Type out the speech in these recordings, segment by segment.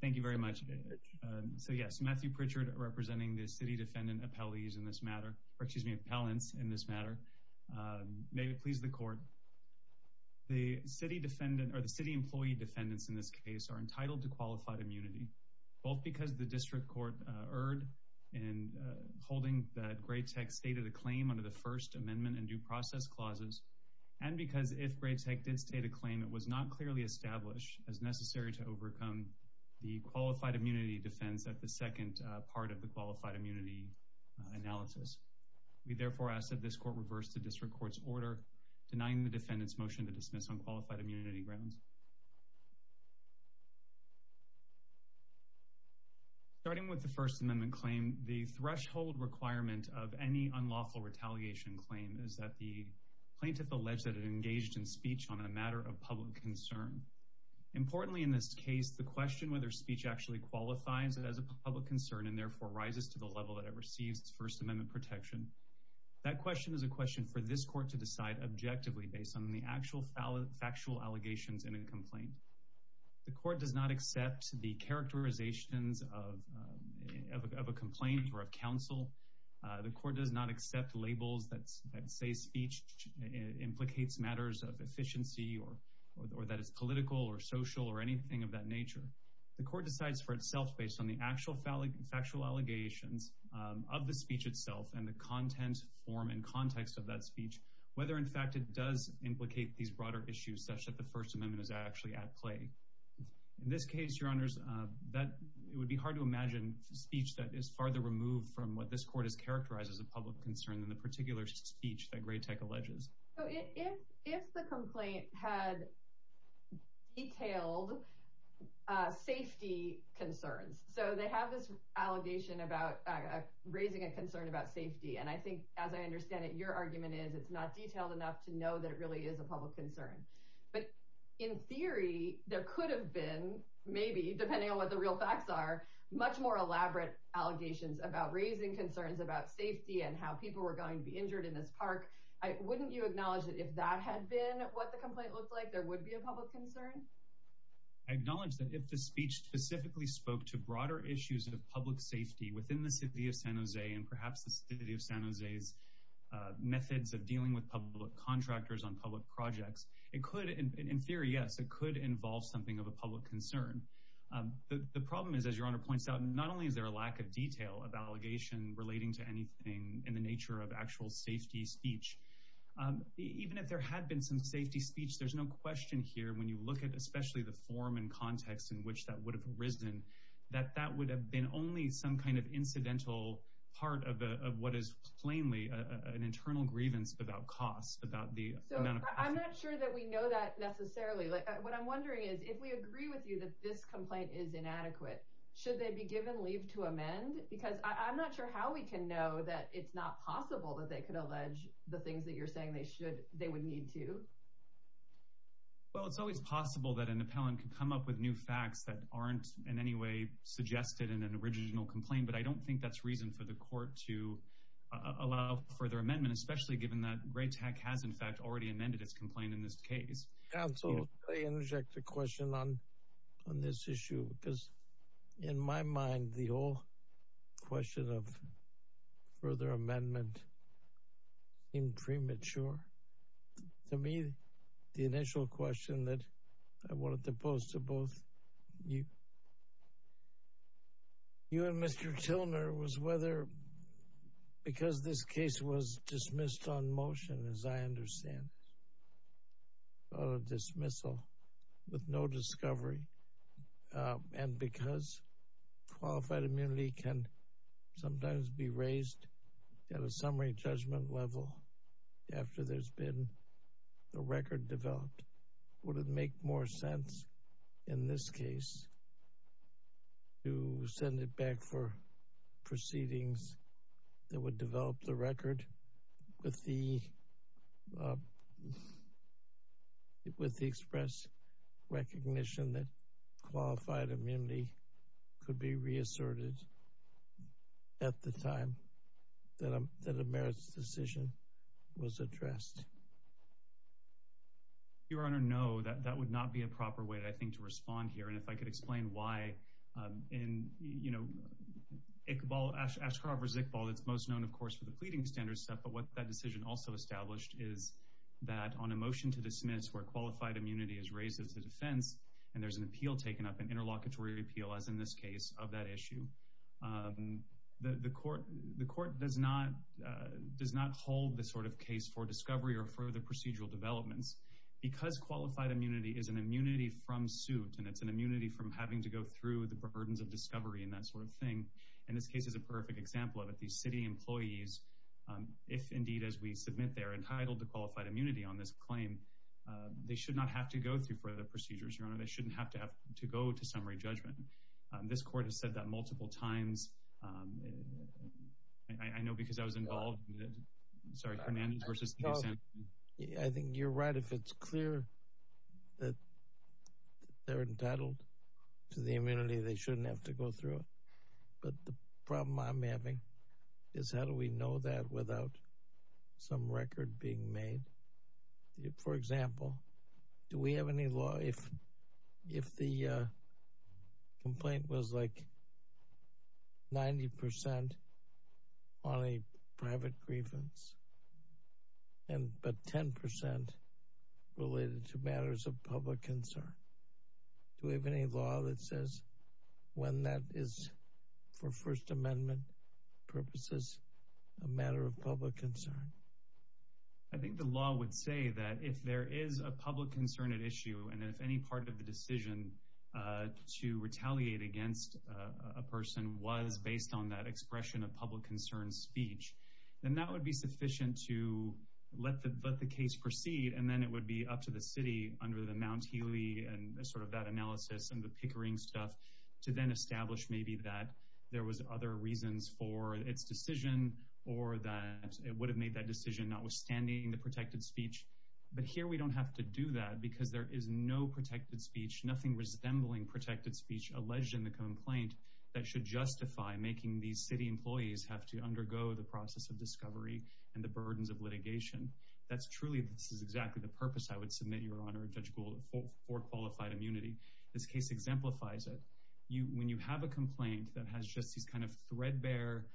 Thank you very much. So yes, Matthew Pritchard representing the city defendant appellees in this matter, or excuse me, appellants in this matter. May it please the court. The city defendant, or the city employee defendants in this case, are entitled to qualified immunity, both because the district court erred in holding that Gratech stated a claim under the First Amendment and Due Process Clauses, and because if Gratech did state a claim, it was not clearly established as necessary to overcome the qualified immunity defense at the second part of the qualified immunity analysis. We therefore ask that this court reverse the district court's order denying the defendant's motion to dismiss on qualified immunity grounds. Starting with the First Amendment claim, the threshold requirement of any unlawful retaliation claim is that the plaintiff alleged that it engaged in speech on a public concern. Importantly in this case, the question whether speech actually qualifies it as a public concern and therefore rises to the level that it receives its First Amendment protection, that question is a question for this court to decide objectively based on the actual factual allegations in a complaint. The court does not accept the characterizations of a complaint or of counsel. The court does not accept labels that say speech implicates matters of efficiency or that is political or social or anything of that nature. The court decides for itself based on the actual factual allegations of the speech itself and the content, form, and context of that speech, whether in fact it does implicate these broader issues such that the First Amendment is actually at play. In this case, Your Honors, it would be hard to imagine speech that is farther removed from what this court has characterized as a public concern than the particular speech that Gratech alleges. If the complaint had detailed safety concerns, so they have this allegation about raising a concern about safety and I think as I understand it your argument is it's not detailed enough to know that it really is a public concern, but in theory there could have been, maybe depending on what the real facts are, much more elaborate allegations about raising concerns about safety and how people were going to be injured in this park. Wouldn't you acknowledge that if that had been what the complaint looked like there would be a public concern? I acknowledge that if the speech specifically spoke to broader issues of public safety within the City of San Jose and perhaps the City of San Jose's methods of dealing with public contractors on public projects, it could, in theory, yes, it could involve something of a public concern. The problem is, as Your Honor points out, not only is there a lack of detail of allegation relating to anything in the nature of actual safety speech, even if there had been some safety speech, there's no question here when you look at especially the form and context in which that would have arisen, that that would have been only some kind of incidental part of what is plainly an internal grievance about cost, about the amount of cost. I'm not sure that we know that necessarily. What I'm wondering is if we agree with you that this complaint is inadequate, should they be given leave to amend? Because I'm not sure how we can know that it's not possible that they could allege the things that you're saying they should, they would need to. Well, it's always possible that an appellant can come up with new facts that aren't in any way suggested in an original complaint, but I don't think that's reason for the court to allow further amendment, especially given that Gray Tech has, in fact, already amended its complaint in this case. Counsel, may I interject a question on this issue? Because in my mind, the whole question of further amendment seemed premature. To me, the initial question that I wanted to pose to both you and Mr. Tilner was whether, because this is a dismissal with no discovery and because qualified immunity can sometimes be raised at a summary judgment level after there's been a record developed, would it make more sense in this case to send it back for proceedings that would with the express recognition that qualified immunity could be reasserted at the time that a merits decision was addressed? Your Honor, no, that would not be a proper way, I think, to respond here. And if I could explain why in, you know, Iqbal, Ashcroft v. Iqbal, it's most known, of course, for the pleading standards stuff, but what that decision also established is that on a motion to dismiss where qualified immunity is raised as a defense and there's an appeal taken up, an interlocutory appeal, as in this case, of that issue, the court does not hold this sort of case for discovery or for the procedural developments. Because qualified immunity is an immunity from suit and it's an immunity from having to go through the burdens of discovery and that sort of thing, and this case is a perfect example of it. These city employees, if indeed as we submit they're entitled to qualified immunity on this claim, they should not have to go through further procedures, Your Honor. They shouldn't have to have to go to summary judgment. This court has said that multiple times. I know because I was involved, sorry, Hernandez v. Sanford. I think you're right if it's clear that they're entitled to the immunity, they shouldn't have to go through it. But the court has said that multiple times. I know because I was involved, sorry, Hernandez v. Sanford. I think you're right if it's clear that they're entitled to the immunity, they shouldn't have to go through further procedures, Your Honor. Hernandez v. Sanford. I think you're right if it's clear that they're entitled to I think the law would say that if there is a public concern at issue and if any part of the decision to retaliate against a person was based on that expression of public concern speech, then that would be sufficient to let the case proceed and then it would be up to the city under the Mount Healy and sort of that analysis and the Pickering stuff to then establish maybe that there was other reasons for its decision or that it would have made that decision not withstanding the protected speech. But here we don't have to do that because there is no protected speech, nothing resembling protected speech alleged in the complaint that should justify making these city employees have to undergo the process of discovery and the burdens of litigation. That's truly, this is exactly the purpose I would submit, Your Honor, for qualified immunity. This case exemplifies it. You, when you have a complaint that has just these kind of threadbare,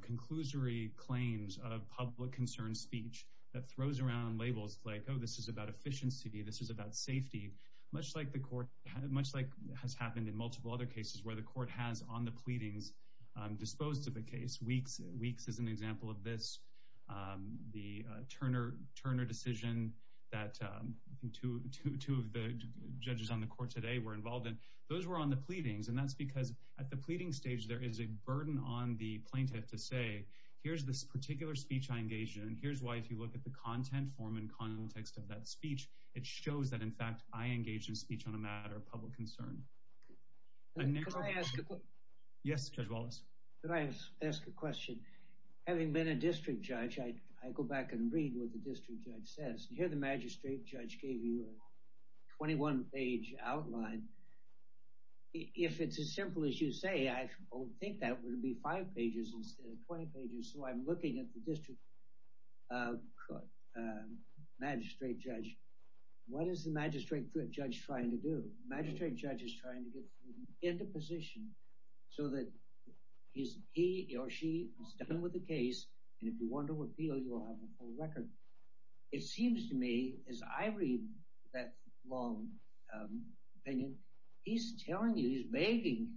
conclusory claims of public concern speech that throws around labels like, oh, this is about efficiency, this is about safety, much like the court, much like has happened in multiple other cases where the court has on the pleadings disposed of a case. Weeks is an example of this. The Turner decision that two of the judges on the court today were involved in, those were on the plaintiff to say, here's this particular speech I engaged in, here's why if you look at the content, form, and context of that speech, it shows that, in fact, I engaged in speech on a matter of public concern. Yes, Judge Wallace. Can I ask a question? Having been a district judge, I go back and read what the district judge says. Here the magistrate judge gave you a 21 page outline. If it's as simple as you say, I would think that would be five pages instead of 20 pages, so I'm looking at the district magistrate judge. What is the magistrate judge trying to do? The magistrate judge is trying to get into position so that he or she is done with the case, and if you want to appeal, you will have a full record. It seems to me, as I read that long opinion, he's telling you, he's begging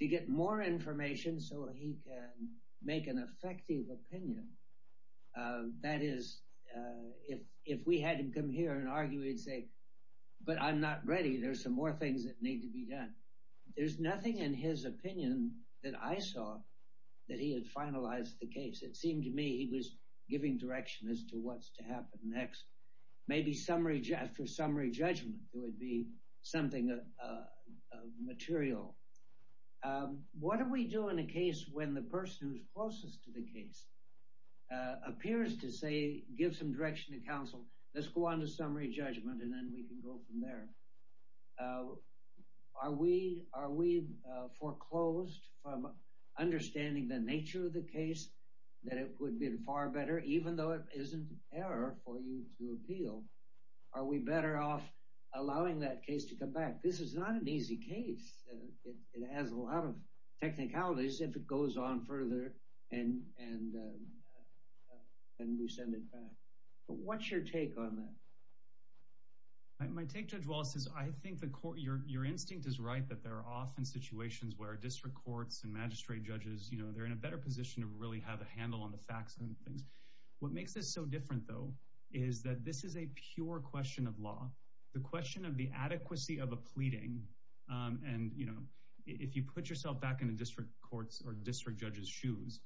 to get more information so he can make an effective opinion. That is, if we had him come here and argue, he'd say, but I'm not ready, there's some more things that need to be done. There's nothing in his opinion that I saw that he finalized the case. It seemed to me he was giving direction as to what's to happen next. Maybe after summary judgment, there would be something material. What do we do in a case when the person who's closest to the case appears to say, give some direction to counsel, let's go on to summary judgment, and then we can go from there? Are we foreclosed from understanding the nature of the case, that it would be far better, even though it isn't an error for you to appeal? Are we better off allowing that case to come back? This is not an easy case. It has a lot of technicalities if it goes on further and we send it back. What's your take on that? My take, Judge Wallace, is I think your instinct is right that there are often situations where district courts and magistrate judges, they're in a better position to really have a handle on the facts and things. What makes this so different, though, is that this is a pure question of law, the question of the adequacy of a pleading. If you put yourself back into district courts or district judges' shoes,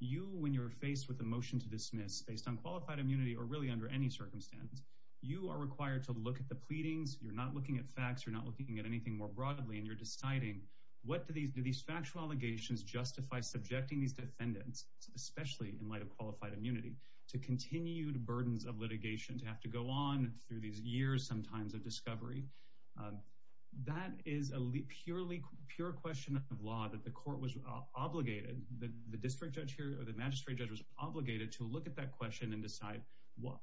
you, when you're faced with a motion to dismiss based on qualified immunity or really under any circumstance, you are required to look at the pleadings. You're not looking at facts. You're not looking at anything more broadly, and you're deciding, what do these factual allegations justify subjecting these defendants, especially in light of qualified immunity, to continued burdens of litigation to have to go on through these years, sometimes, of discovery? That is a purely pure question of law that the court was obligated, the district judge here or the magistrate judge was obligated to look at that question and decide,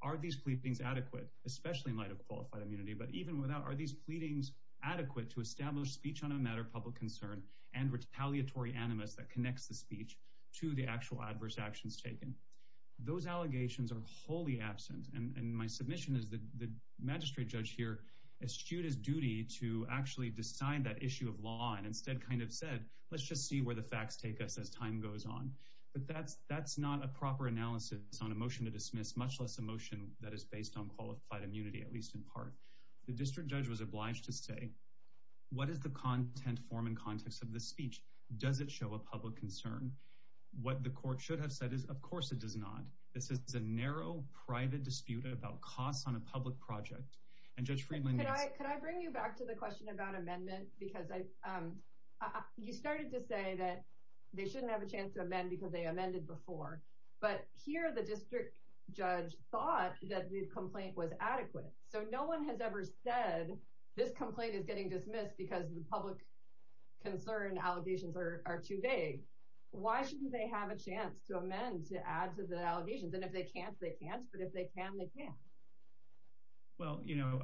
are these pleadings adequate, especially in light of qualified immunity, but even without, are these pleadings adequate to establish speech on a matter of public concern and retaliatory animus that connects the speech to the actual adverse actions taken? Those allegations are wholly absent, and my submission is that the magistrate judge here eschewed his duty to actually decide that issue of law and instead kind of said, let's just see where the facts take us as time goes on. But that's not a motion to dismiss, much less a motion that is based on qualified immunity, at least in part. The district judge was obliged to say, what is the content, form, and context of the speech? Does it show a public concern? What the court should have said is, of course, it does not. This is a narrow, private dispute about costs on a public project. And Judge Friedman... Can I bring you back to the question about amendment? Because you started to say that they shouldn't have a chance to amend because they amended before. But here, the district judge thought that the complaint was adequate. So no one has ever said, this complaint is getting dismissed because the public concern allegations are too vague. Why shouldn't they have a chance to amend to add to the allegations? And if they can't, they can't. But if they can, they can. Well, you know,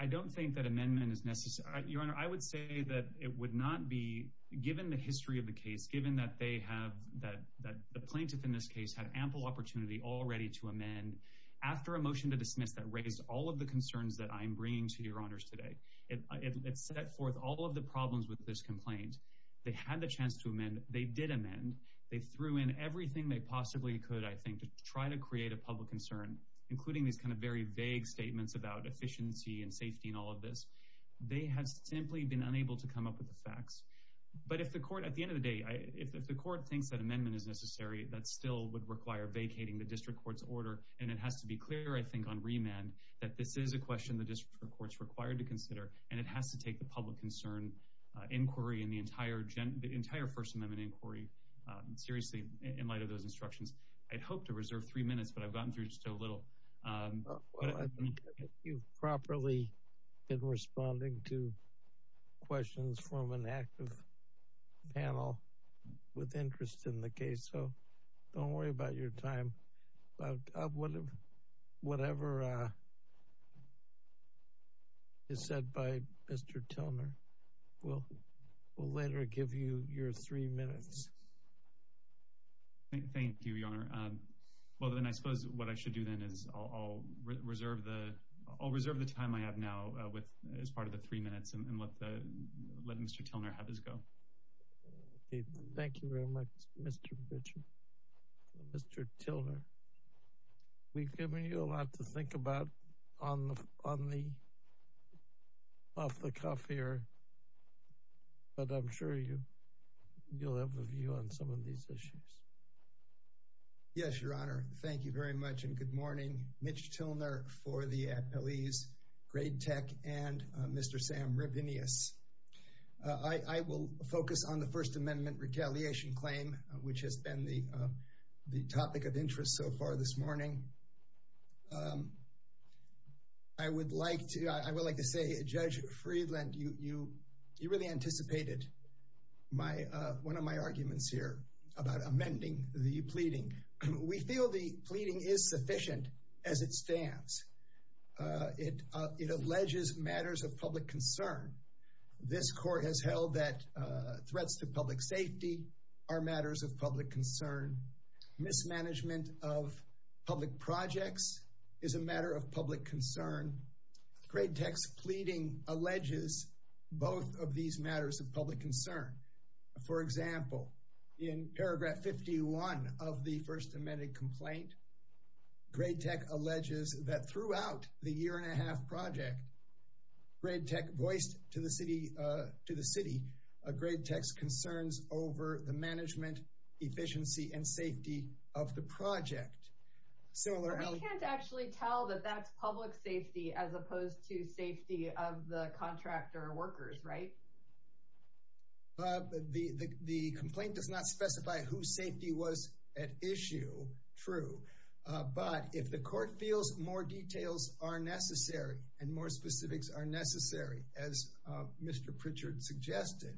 I don't think that amendment is necessary. Your Honor, I would say that it would not be, given the history of the case, given that they have, that the plaintiff in this case had ample opportunity already to amend, after a motion to dismiss that raised all of the concerns that I'm bringing to Your Honors today. It set forth all of the problems with this complaint. They had the chance to amend. They did amend. They threw in everything they possibly could, I think, to try to create a public concern, including these kind of statements about efficiency and safety and all of this. They have simply been unable to come up with the facts. But if the court, at the end of the day, if the court thinks that amendment is necessary, that still would require vacating the district court's order. And it has to be clear, I think, on remand that this is a question the district court's required to consider, and it has to take the public concern inquiry and the entire first amendment inquiry seriously in light of those instructions. I'd hope to reserve three minutes, but I've gotten through just a little. You've properly been responding to questions from an active panel with interest in the case, so don't worry about your time. Whatever is said by Mr. Tilner, we'll later give you your three minutes. Thank you, Your Honor. Well, then I suppose what I should do then is I'll reserve the time I have now as part of the three minutes and let Mr. Tilner have his go. Thank you very much, Mr. Bridger. Mr. Tilner, we've given you a lot to think about off the cuff here, but I'm sure you'll have a view on some of these issues. Yes, Your Honor. Thank you very much and good morning. Mitch Tilner for the Appellees, Grade Tech, and Mr. Sam Rabinius. I will focus on the first amendment retaliation claim, which has been the topic of interest so far this morning. I would like to say, Judge Friedland, you really anticipated one of my arguments here about amending the pleading. We feel the pleading is sufficient as it stands. It alleges matters of public concern. This court has held that threats to public safety are matters of public concern, mismanagement of public projects is a matter of public concern. Grade Tech's pleading alleges both of these matters of public concern. For example, in paragraph 51 of the first amended complaint, Grade Tech alleges that throughout the year and a half project, Grade Tech voiced to the city a Grade Tech's concerns over the management, efficiency, and safety of the project. We can't actually tell that that's public safety as opposed to safety of the contractor workers, right? The complaint does not specify whose safety was at issue, true, but if the court feels more details are necessary and more specifics are necessary, as Mr. Pritchard suggested,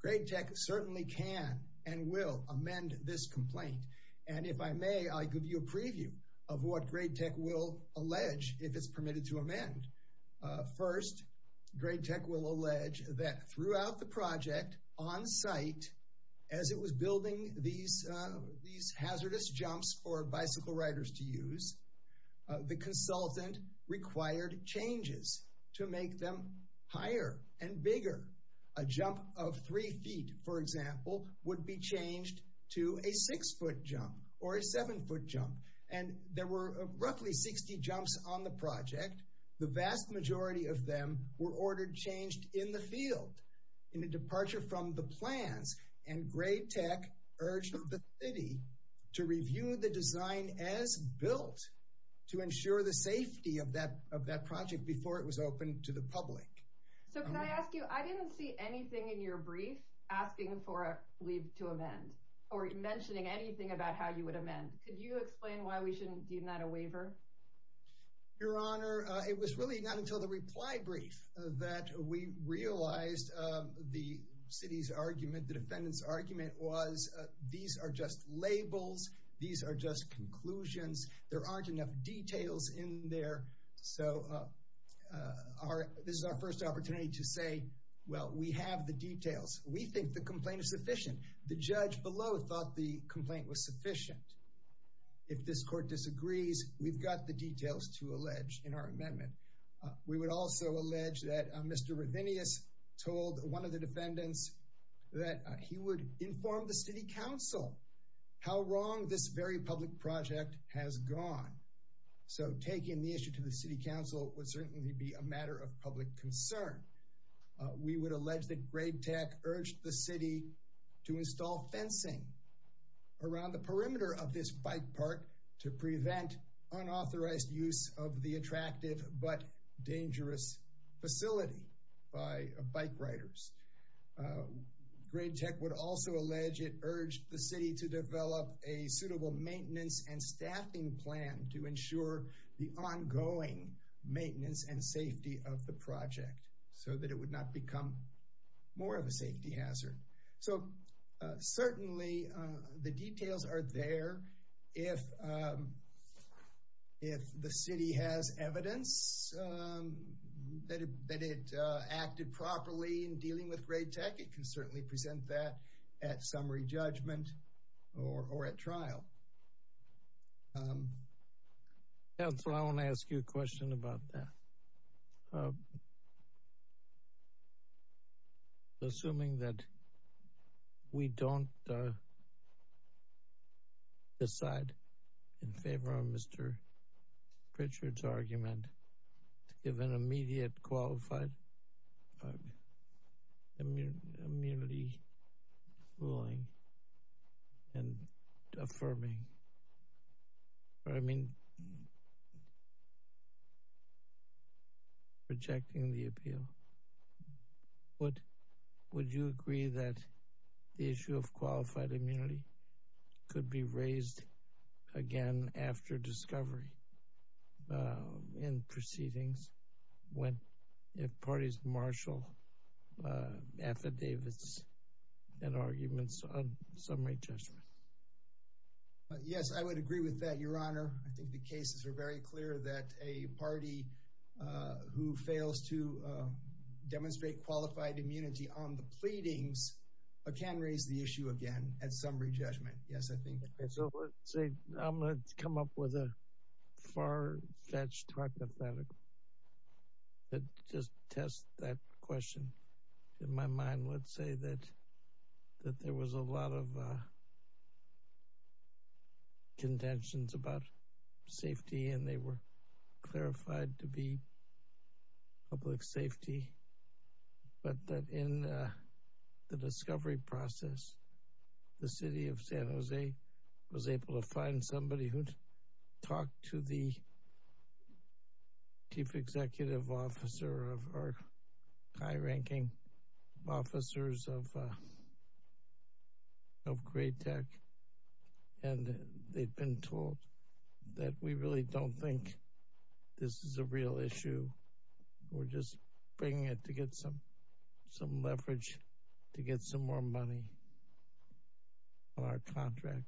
Grade Tech certainly can and will amend this complaint. If I may, I'll give you a preview of what Grade Tech will allege if it's permitted to amend. First, Grade Tech will allege that throughout the project, on site, as it was building these hazardous jumps for bicycle riders to use, the consultant required changes to make them higher and bigger. A jump of three feet, for example, would be changed to a six-foot jump or a seven-foot jump, and there were roughly 60 jumps on the project. The vast majority of them were ordered changed in the field. In a departure from the plans, Grade Tech urged the city to review the design as built to ensure the safety of that project before it was open to the public. So can I ask you, I didn't see anything in your brief asking for a leave to amend or mentioning anything about how you would amend. Could you explain why we shouldn't deem that a waiver? Your Honor, it was really not until the reply brief that we realized the city's argument, the defendant's argument, was these are just labels. These are just conclusions. There aren't enough details in there. So this is our first opportunity to say, well, we have the details. We think the complaint is sufficient. The judge below thought the complaint was sufficient. If this court disagrees, we've got the details to that Mr. Ravinious told one of the defendants that he would inform the City Council how wrong this very public project has gone. So taking the issue to the City Council would certainly be a matter of public concern. We would allege that Grade Tech urged the city to install fencing around the perimeter of this bike park to prevent unauthorized use of the attractive but dangerous facility by bike riders. Grade Tech would also allege it urged the city to develop a suitable maintenance and staffing plan to ensure the ongoing maintenance and safety of the project so that it would not become more of a safety hazard. So certainly the details are there. If the city has evidence that it acted properly in dealing with Grade Tech, it can certainly present that at summary judgment or at trial. Councillor, I want to ask you a question about that. Assuming that we don't decide in favor of Mr. Pritchard's argument to give an immediate qualified immunity ruling and affirming, or I mean rejecting the appeal, would you agree that the issue of qualified immunity could be raised again after discovery in proceedings if parties marshal affidavits and arguments on summary judgment? Yes, I would agree with that, Your Honor. I think the cases are very clear that a party who fails to demonstrate qualified immunity on the pleadings can raise the issue again at summary judgment. Yes, I think. I'm going to come up with a far-fetched hypothetical and just test that question. In my mind, let's say that there was a lot of contentions about safety and they were clarified to be public safety, but that in the discovery process, the City of San Jose was able to find somebody who'd talked to the Chief Executive Officer of our high-ranking officers of Great Tech, and they'd been told that we really don't think this is a real issue. We're just bringing it to get some leverage to get some more money on our contract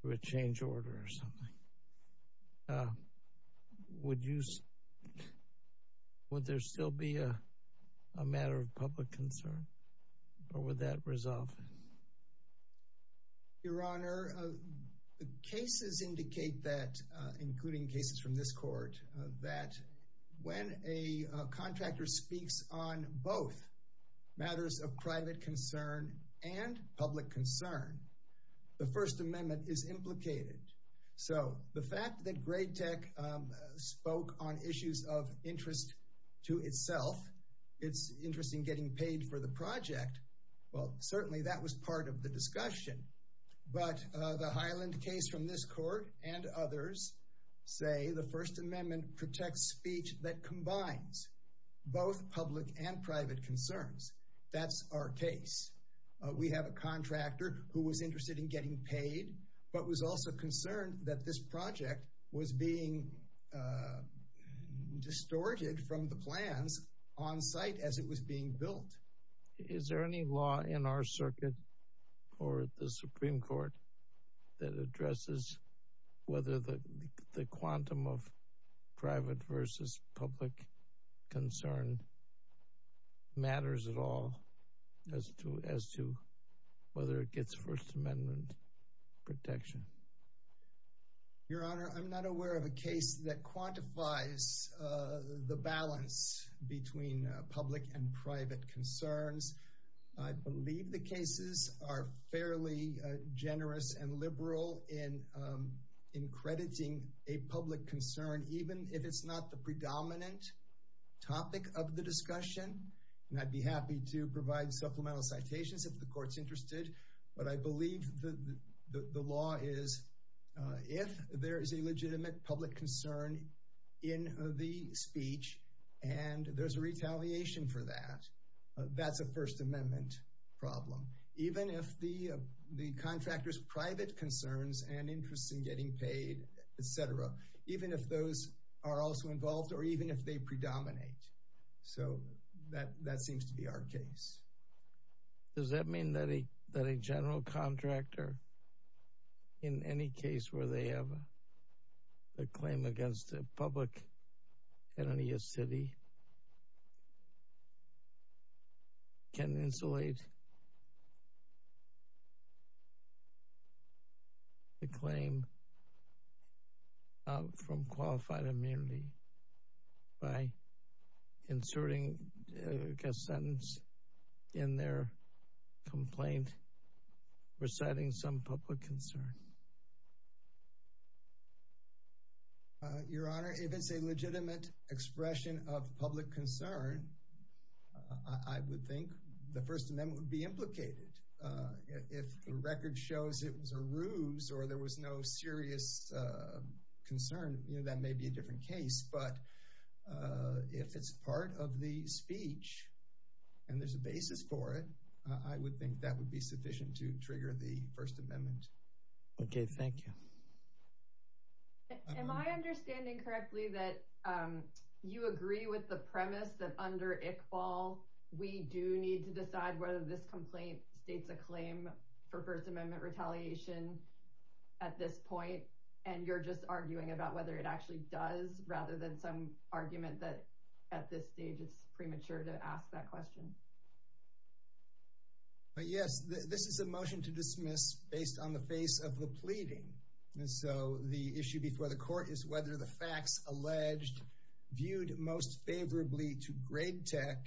through a change order or something. Would there still be a matter of public concern, or would that resolve it? Your Honor, the cases indicate that, including cases from this Court, that when a contractor speaks on both matters of private concern and public concern, the First Amendment is implicated. The fact that Great Tech spoke on issues of interest to itself, it's interesting getting paid for the project, well, certainly that was part of the discussion. But the Highland case from this Court and others say the First Amendment protects speech that combines both public and private concerns. That's our case. We have a contractor who was interested in getting paid, but was also concerned that this project was being distorted from the plans on site as it was being built. Is there any law in our circuit or the Supreme Court that addresses whether the quantum of private versus public concern matters at all as to whether it gets First Amendment protection? Your Honor, I'm not aware of a case that quantifies the balance between public and private concerns. I believe the cases are fairly generous and liberal in crediting a public concern, even if it's not the predominant topic of the discussion. And I'd be happy to provide supplemental citations if the Court's interested. But I believe the law is if there is a legitimate public concern in the speech and there's a retaliation for that, that's a First Amendment problem. Even if the contractor's private concerns and interest in getting paid, etc., even if those are also involved or even if they predominate. So that seems to be our case. Does that mean that a general contractor, in any case where they have a claim against a public entity, a city, can insulate the claim from qualified immunity by inserting a sentence in their complaint reciting some public concern? Your Honor, if it's a legitimate expression of public concern, I would think the First Amendment would be implicated. If the record shows it was a ruse or there was no serious concern, that may be a different case. But if it's part of the speech and there's a basis for it, I would think that would be sufficient to trigger the First Amendment. Okay, thank you. Am I understanding correctly that you agree with the premise that under Iqbal, we do need to decide whether this complaint states a claim for First Amendment retaliation at this point, and you're just arguing about whether it actually does rather than some argument that at this stage it's premature to ask that question? Yes, this is a motion to dismiss based on the face of the pleading. So the issue before the court is whether the facts alleged, viewed most favorably to grade tech,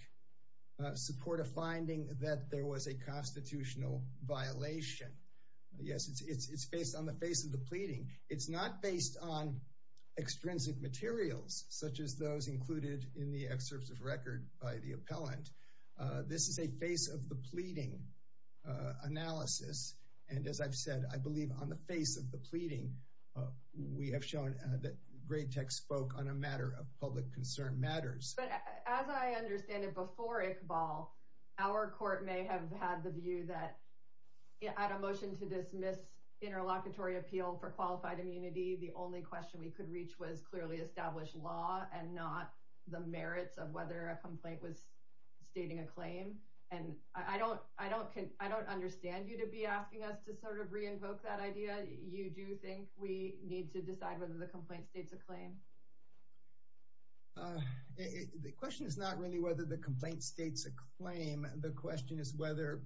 support a finding that there was a constitutional violation. Yes, it's based on the face of the pleading. It's not based on extrinsic materials, such as those included in the excerpts of record by the appellant. This is a face of the pleading analysis. And as I've said, I believe on the face of the pleading, we have shown that grade tech spoke on a matter of public concern matters. But as I understand it, before Iqbal, our court may have had the view that at a motion to dismiss interlocutory appeal for qualified immunity, the only question we could was clearly established law and not the merits of whether a complaint was stating a claim. And I don't understand you to be asking us to sort of re-invoke that idea. You do think we need to decide whether the complaint states a claim? The question is not really whether the complaint states a claim. The question is whether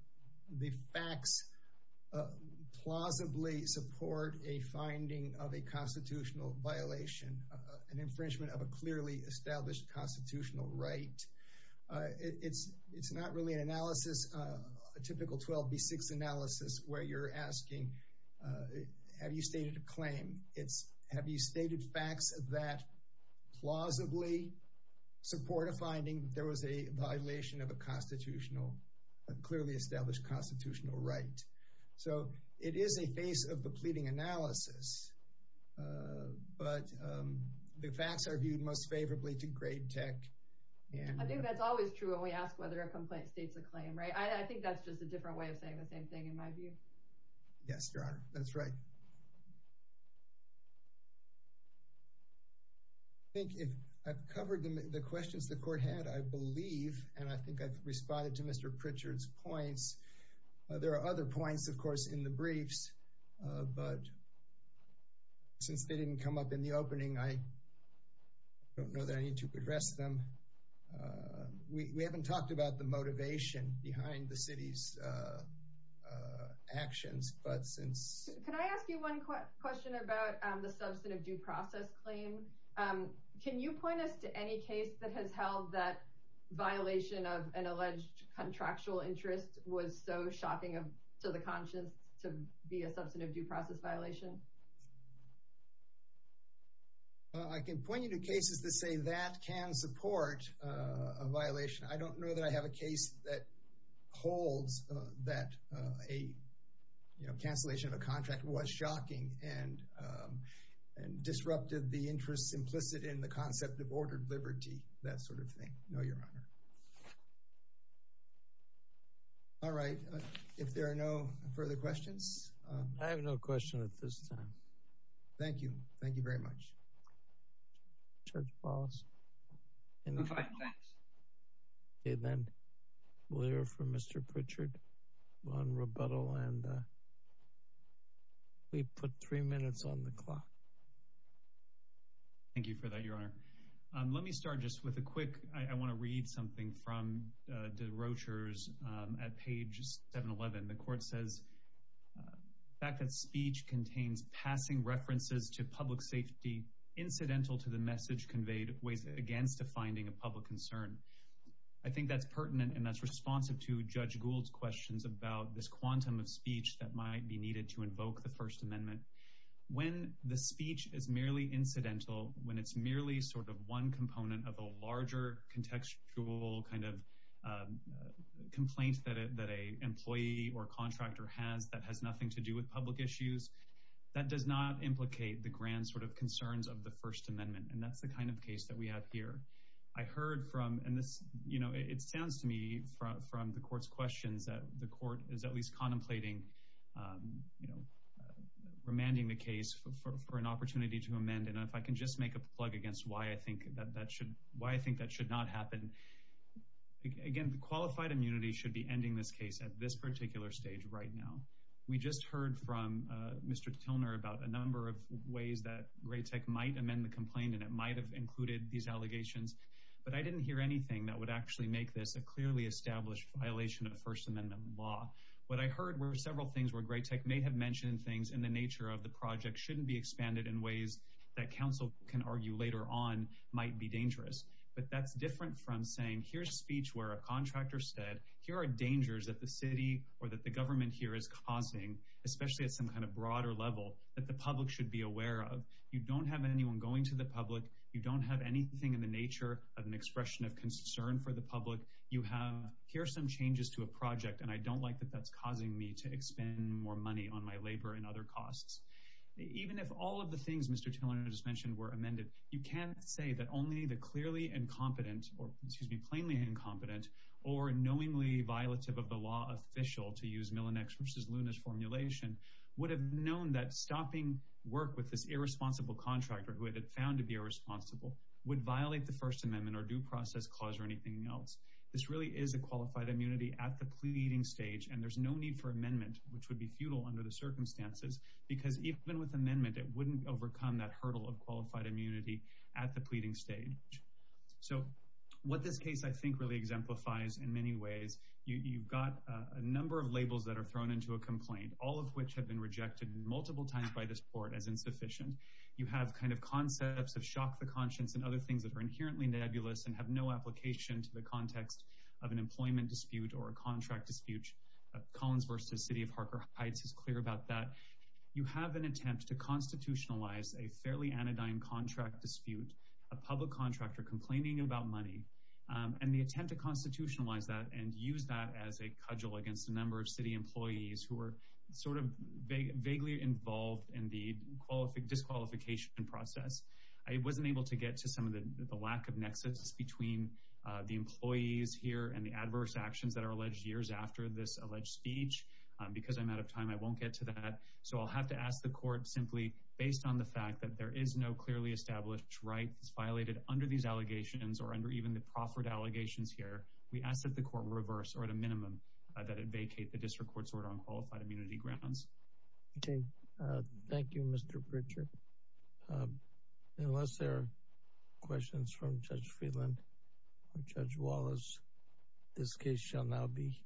the facts plausibly support a finding of a constitutional violation, an infringement of a clearly established constitutional right. It's not really an analysis, a typical 12B6 analysis where you're asking, have you stated a claim? It's have you stated facts that plausibly support a finding there was a violation of a clearly established constitutional right. So it is a face of the pleading analysis, but the facts are viewed most favorably to grade tech. I think that's always true when we ask whether a complaint states a claim, right? I think that's just a different way of saying the same thing in my view. Yes, Your Honor, that's right. I think if I've covered the questions the court had, I believe, and I think I've responded to Mr. Pritchard's points. There are other points, of course, in the briefs, but since they didn't come up in the opening, I don't know that I need to address them. We haven't talked about the motivation behind the city's actions, but since... Can I ask you one question about the substantive due process claim? Can you point us to any case that has held that violation of an alleged contractual interest was so shocking to the conscience to be a substantive due process violation? I can point you to cases that say that can support a violation. I don't know that I have a case that holds that a cancellation of a contract was shocking and disrupted the interest implicit in the concept of ordered liberty, that sort of thing. No, Your Honor. All right, if there are no further questions... I have no question at this time. Thank you. Thank you very much. Judge Ballas. Okay, then we'll hear from Mr. Pritchard on rebuttal, and we put three minutes on the clock. Thank you for that, Your Honor. Let me start just with a quick... I want to read something from DeRocher's at page 711. The court says, fact that speech contains passing references to public safety incidental to the message conveyed weighs against a finding of public concern. I think that's pertinent, and that's responsive to Judge Gould's questions about this quantum of speech that might be needed to invoke the First Amendment. When the speech is merely incidental, when it's merely sort of one component of a larger contextual kind of complaint that an employee or contractor has that has nothing to do with public issues, that does not implicate the grand sort of concerns of the First Amendment, and that's the kind of case that we have here. I heard from, and it sounds to me from the court's questions, that the court is at least contemplating remanding the case for an opportunity to amend, and if I can just make a plug against why I think that should... why I think that should not happen. Again, the qualified immunity should be ending this case at this particular stage right now. We just heard from Mr. Tilner about a number of ways that Graytech might amend the complaint, and it might have included these allegations, but I didn't hear anything that would actually make this a clearly established violation of First Amendment law. What I heard were several things where Graytech may have mentioned things in the nature of the project shouldn't be expanded in ways that counsel can argue later on might be dangerous, but that's different from saying, here's speech where a contractor said, here are dangers that the city or that the government here is causing, especially at some kind of broader level, that the public should be aware of. You don't have anyone going to the public. You don't have anything in the nature of an expression of concern for the public. You have, here are some changes to a project, and I don't like that that's mentioned were amended. You can't say that only the clearly incompetent or, excuse me, plainly incompetent or knowingly violative of the law official, to use Millinex versus Luna's formulation, would have known that stopping work with this irresponsible contractor, who it had found to be irresponsible, would violate the First Amendment or due process clause or anything else. This really is a qualified immunity at the pleading stage, and there's no need for amendment, which would be futile under the circumstances, because even with amendment, it wouldn't overcome that hurdle of qualified immunity at the pleading stage. So what this case I think really exemplifies in many ways, you've got a number of labels that are thrown into a complaint, all of which have been rejected multiple times by this court as insufficient. You have kind of concepts of shock the conscience and other things that are inherently nebulous and have no application to the context of an employment dispute or a contract dispute. Collins versus City of Harker Heights is clear about that. You have an attempt to constitutionalize a fairly anodyne contract dispute, a public contractor complaining about money, and the attempt to constitutionalize that and use that as a cudgel against a number of city employees who were sort of vaguely involved in the disqualification process. I wasn't able to get to some of the lack of nexus between the employees here and the adverse actions that are alleged years after this alleged speech. Because I'm out of time, I won't get to that. So I'll have to ask the court simply, based on the fact that there is no clearly established right that's violated under these allegations or under even the proffered allegations here, we ask that the court reverse, or at a minimum, that it vacate the district court's order on qualified immunity grounds. Okay. Thank you, Mr. Pritchard. Unless there are questions from Judge Friedland or Judge Wallace, this case shall now be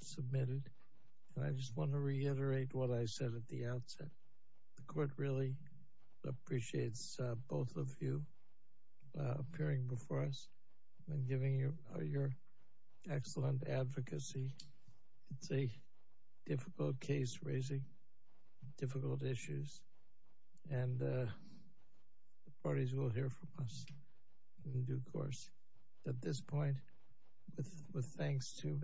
submitted. And I just want to reiterate what I said at the outset. The court really appreciates both of you appearing before us and giving your excellent advocacy. It's a difficult case, raising difficult issues, and the parties will hear from us in due course. At this point, with thanks to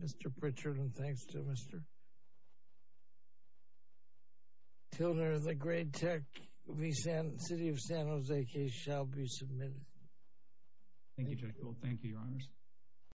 Mr. Pritchard and thanks to Mr. Tilder, the Gray Tech v. City of San Jose case shall be submitted. Thank you, Judge Gold. Thank you, Your Honors.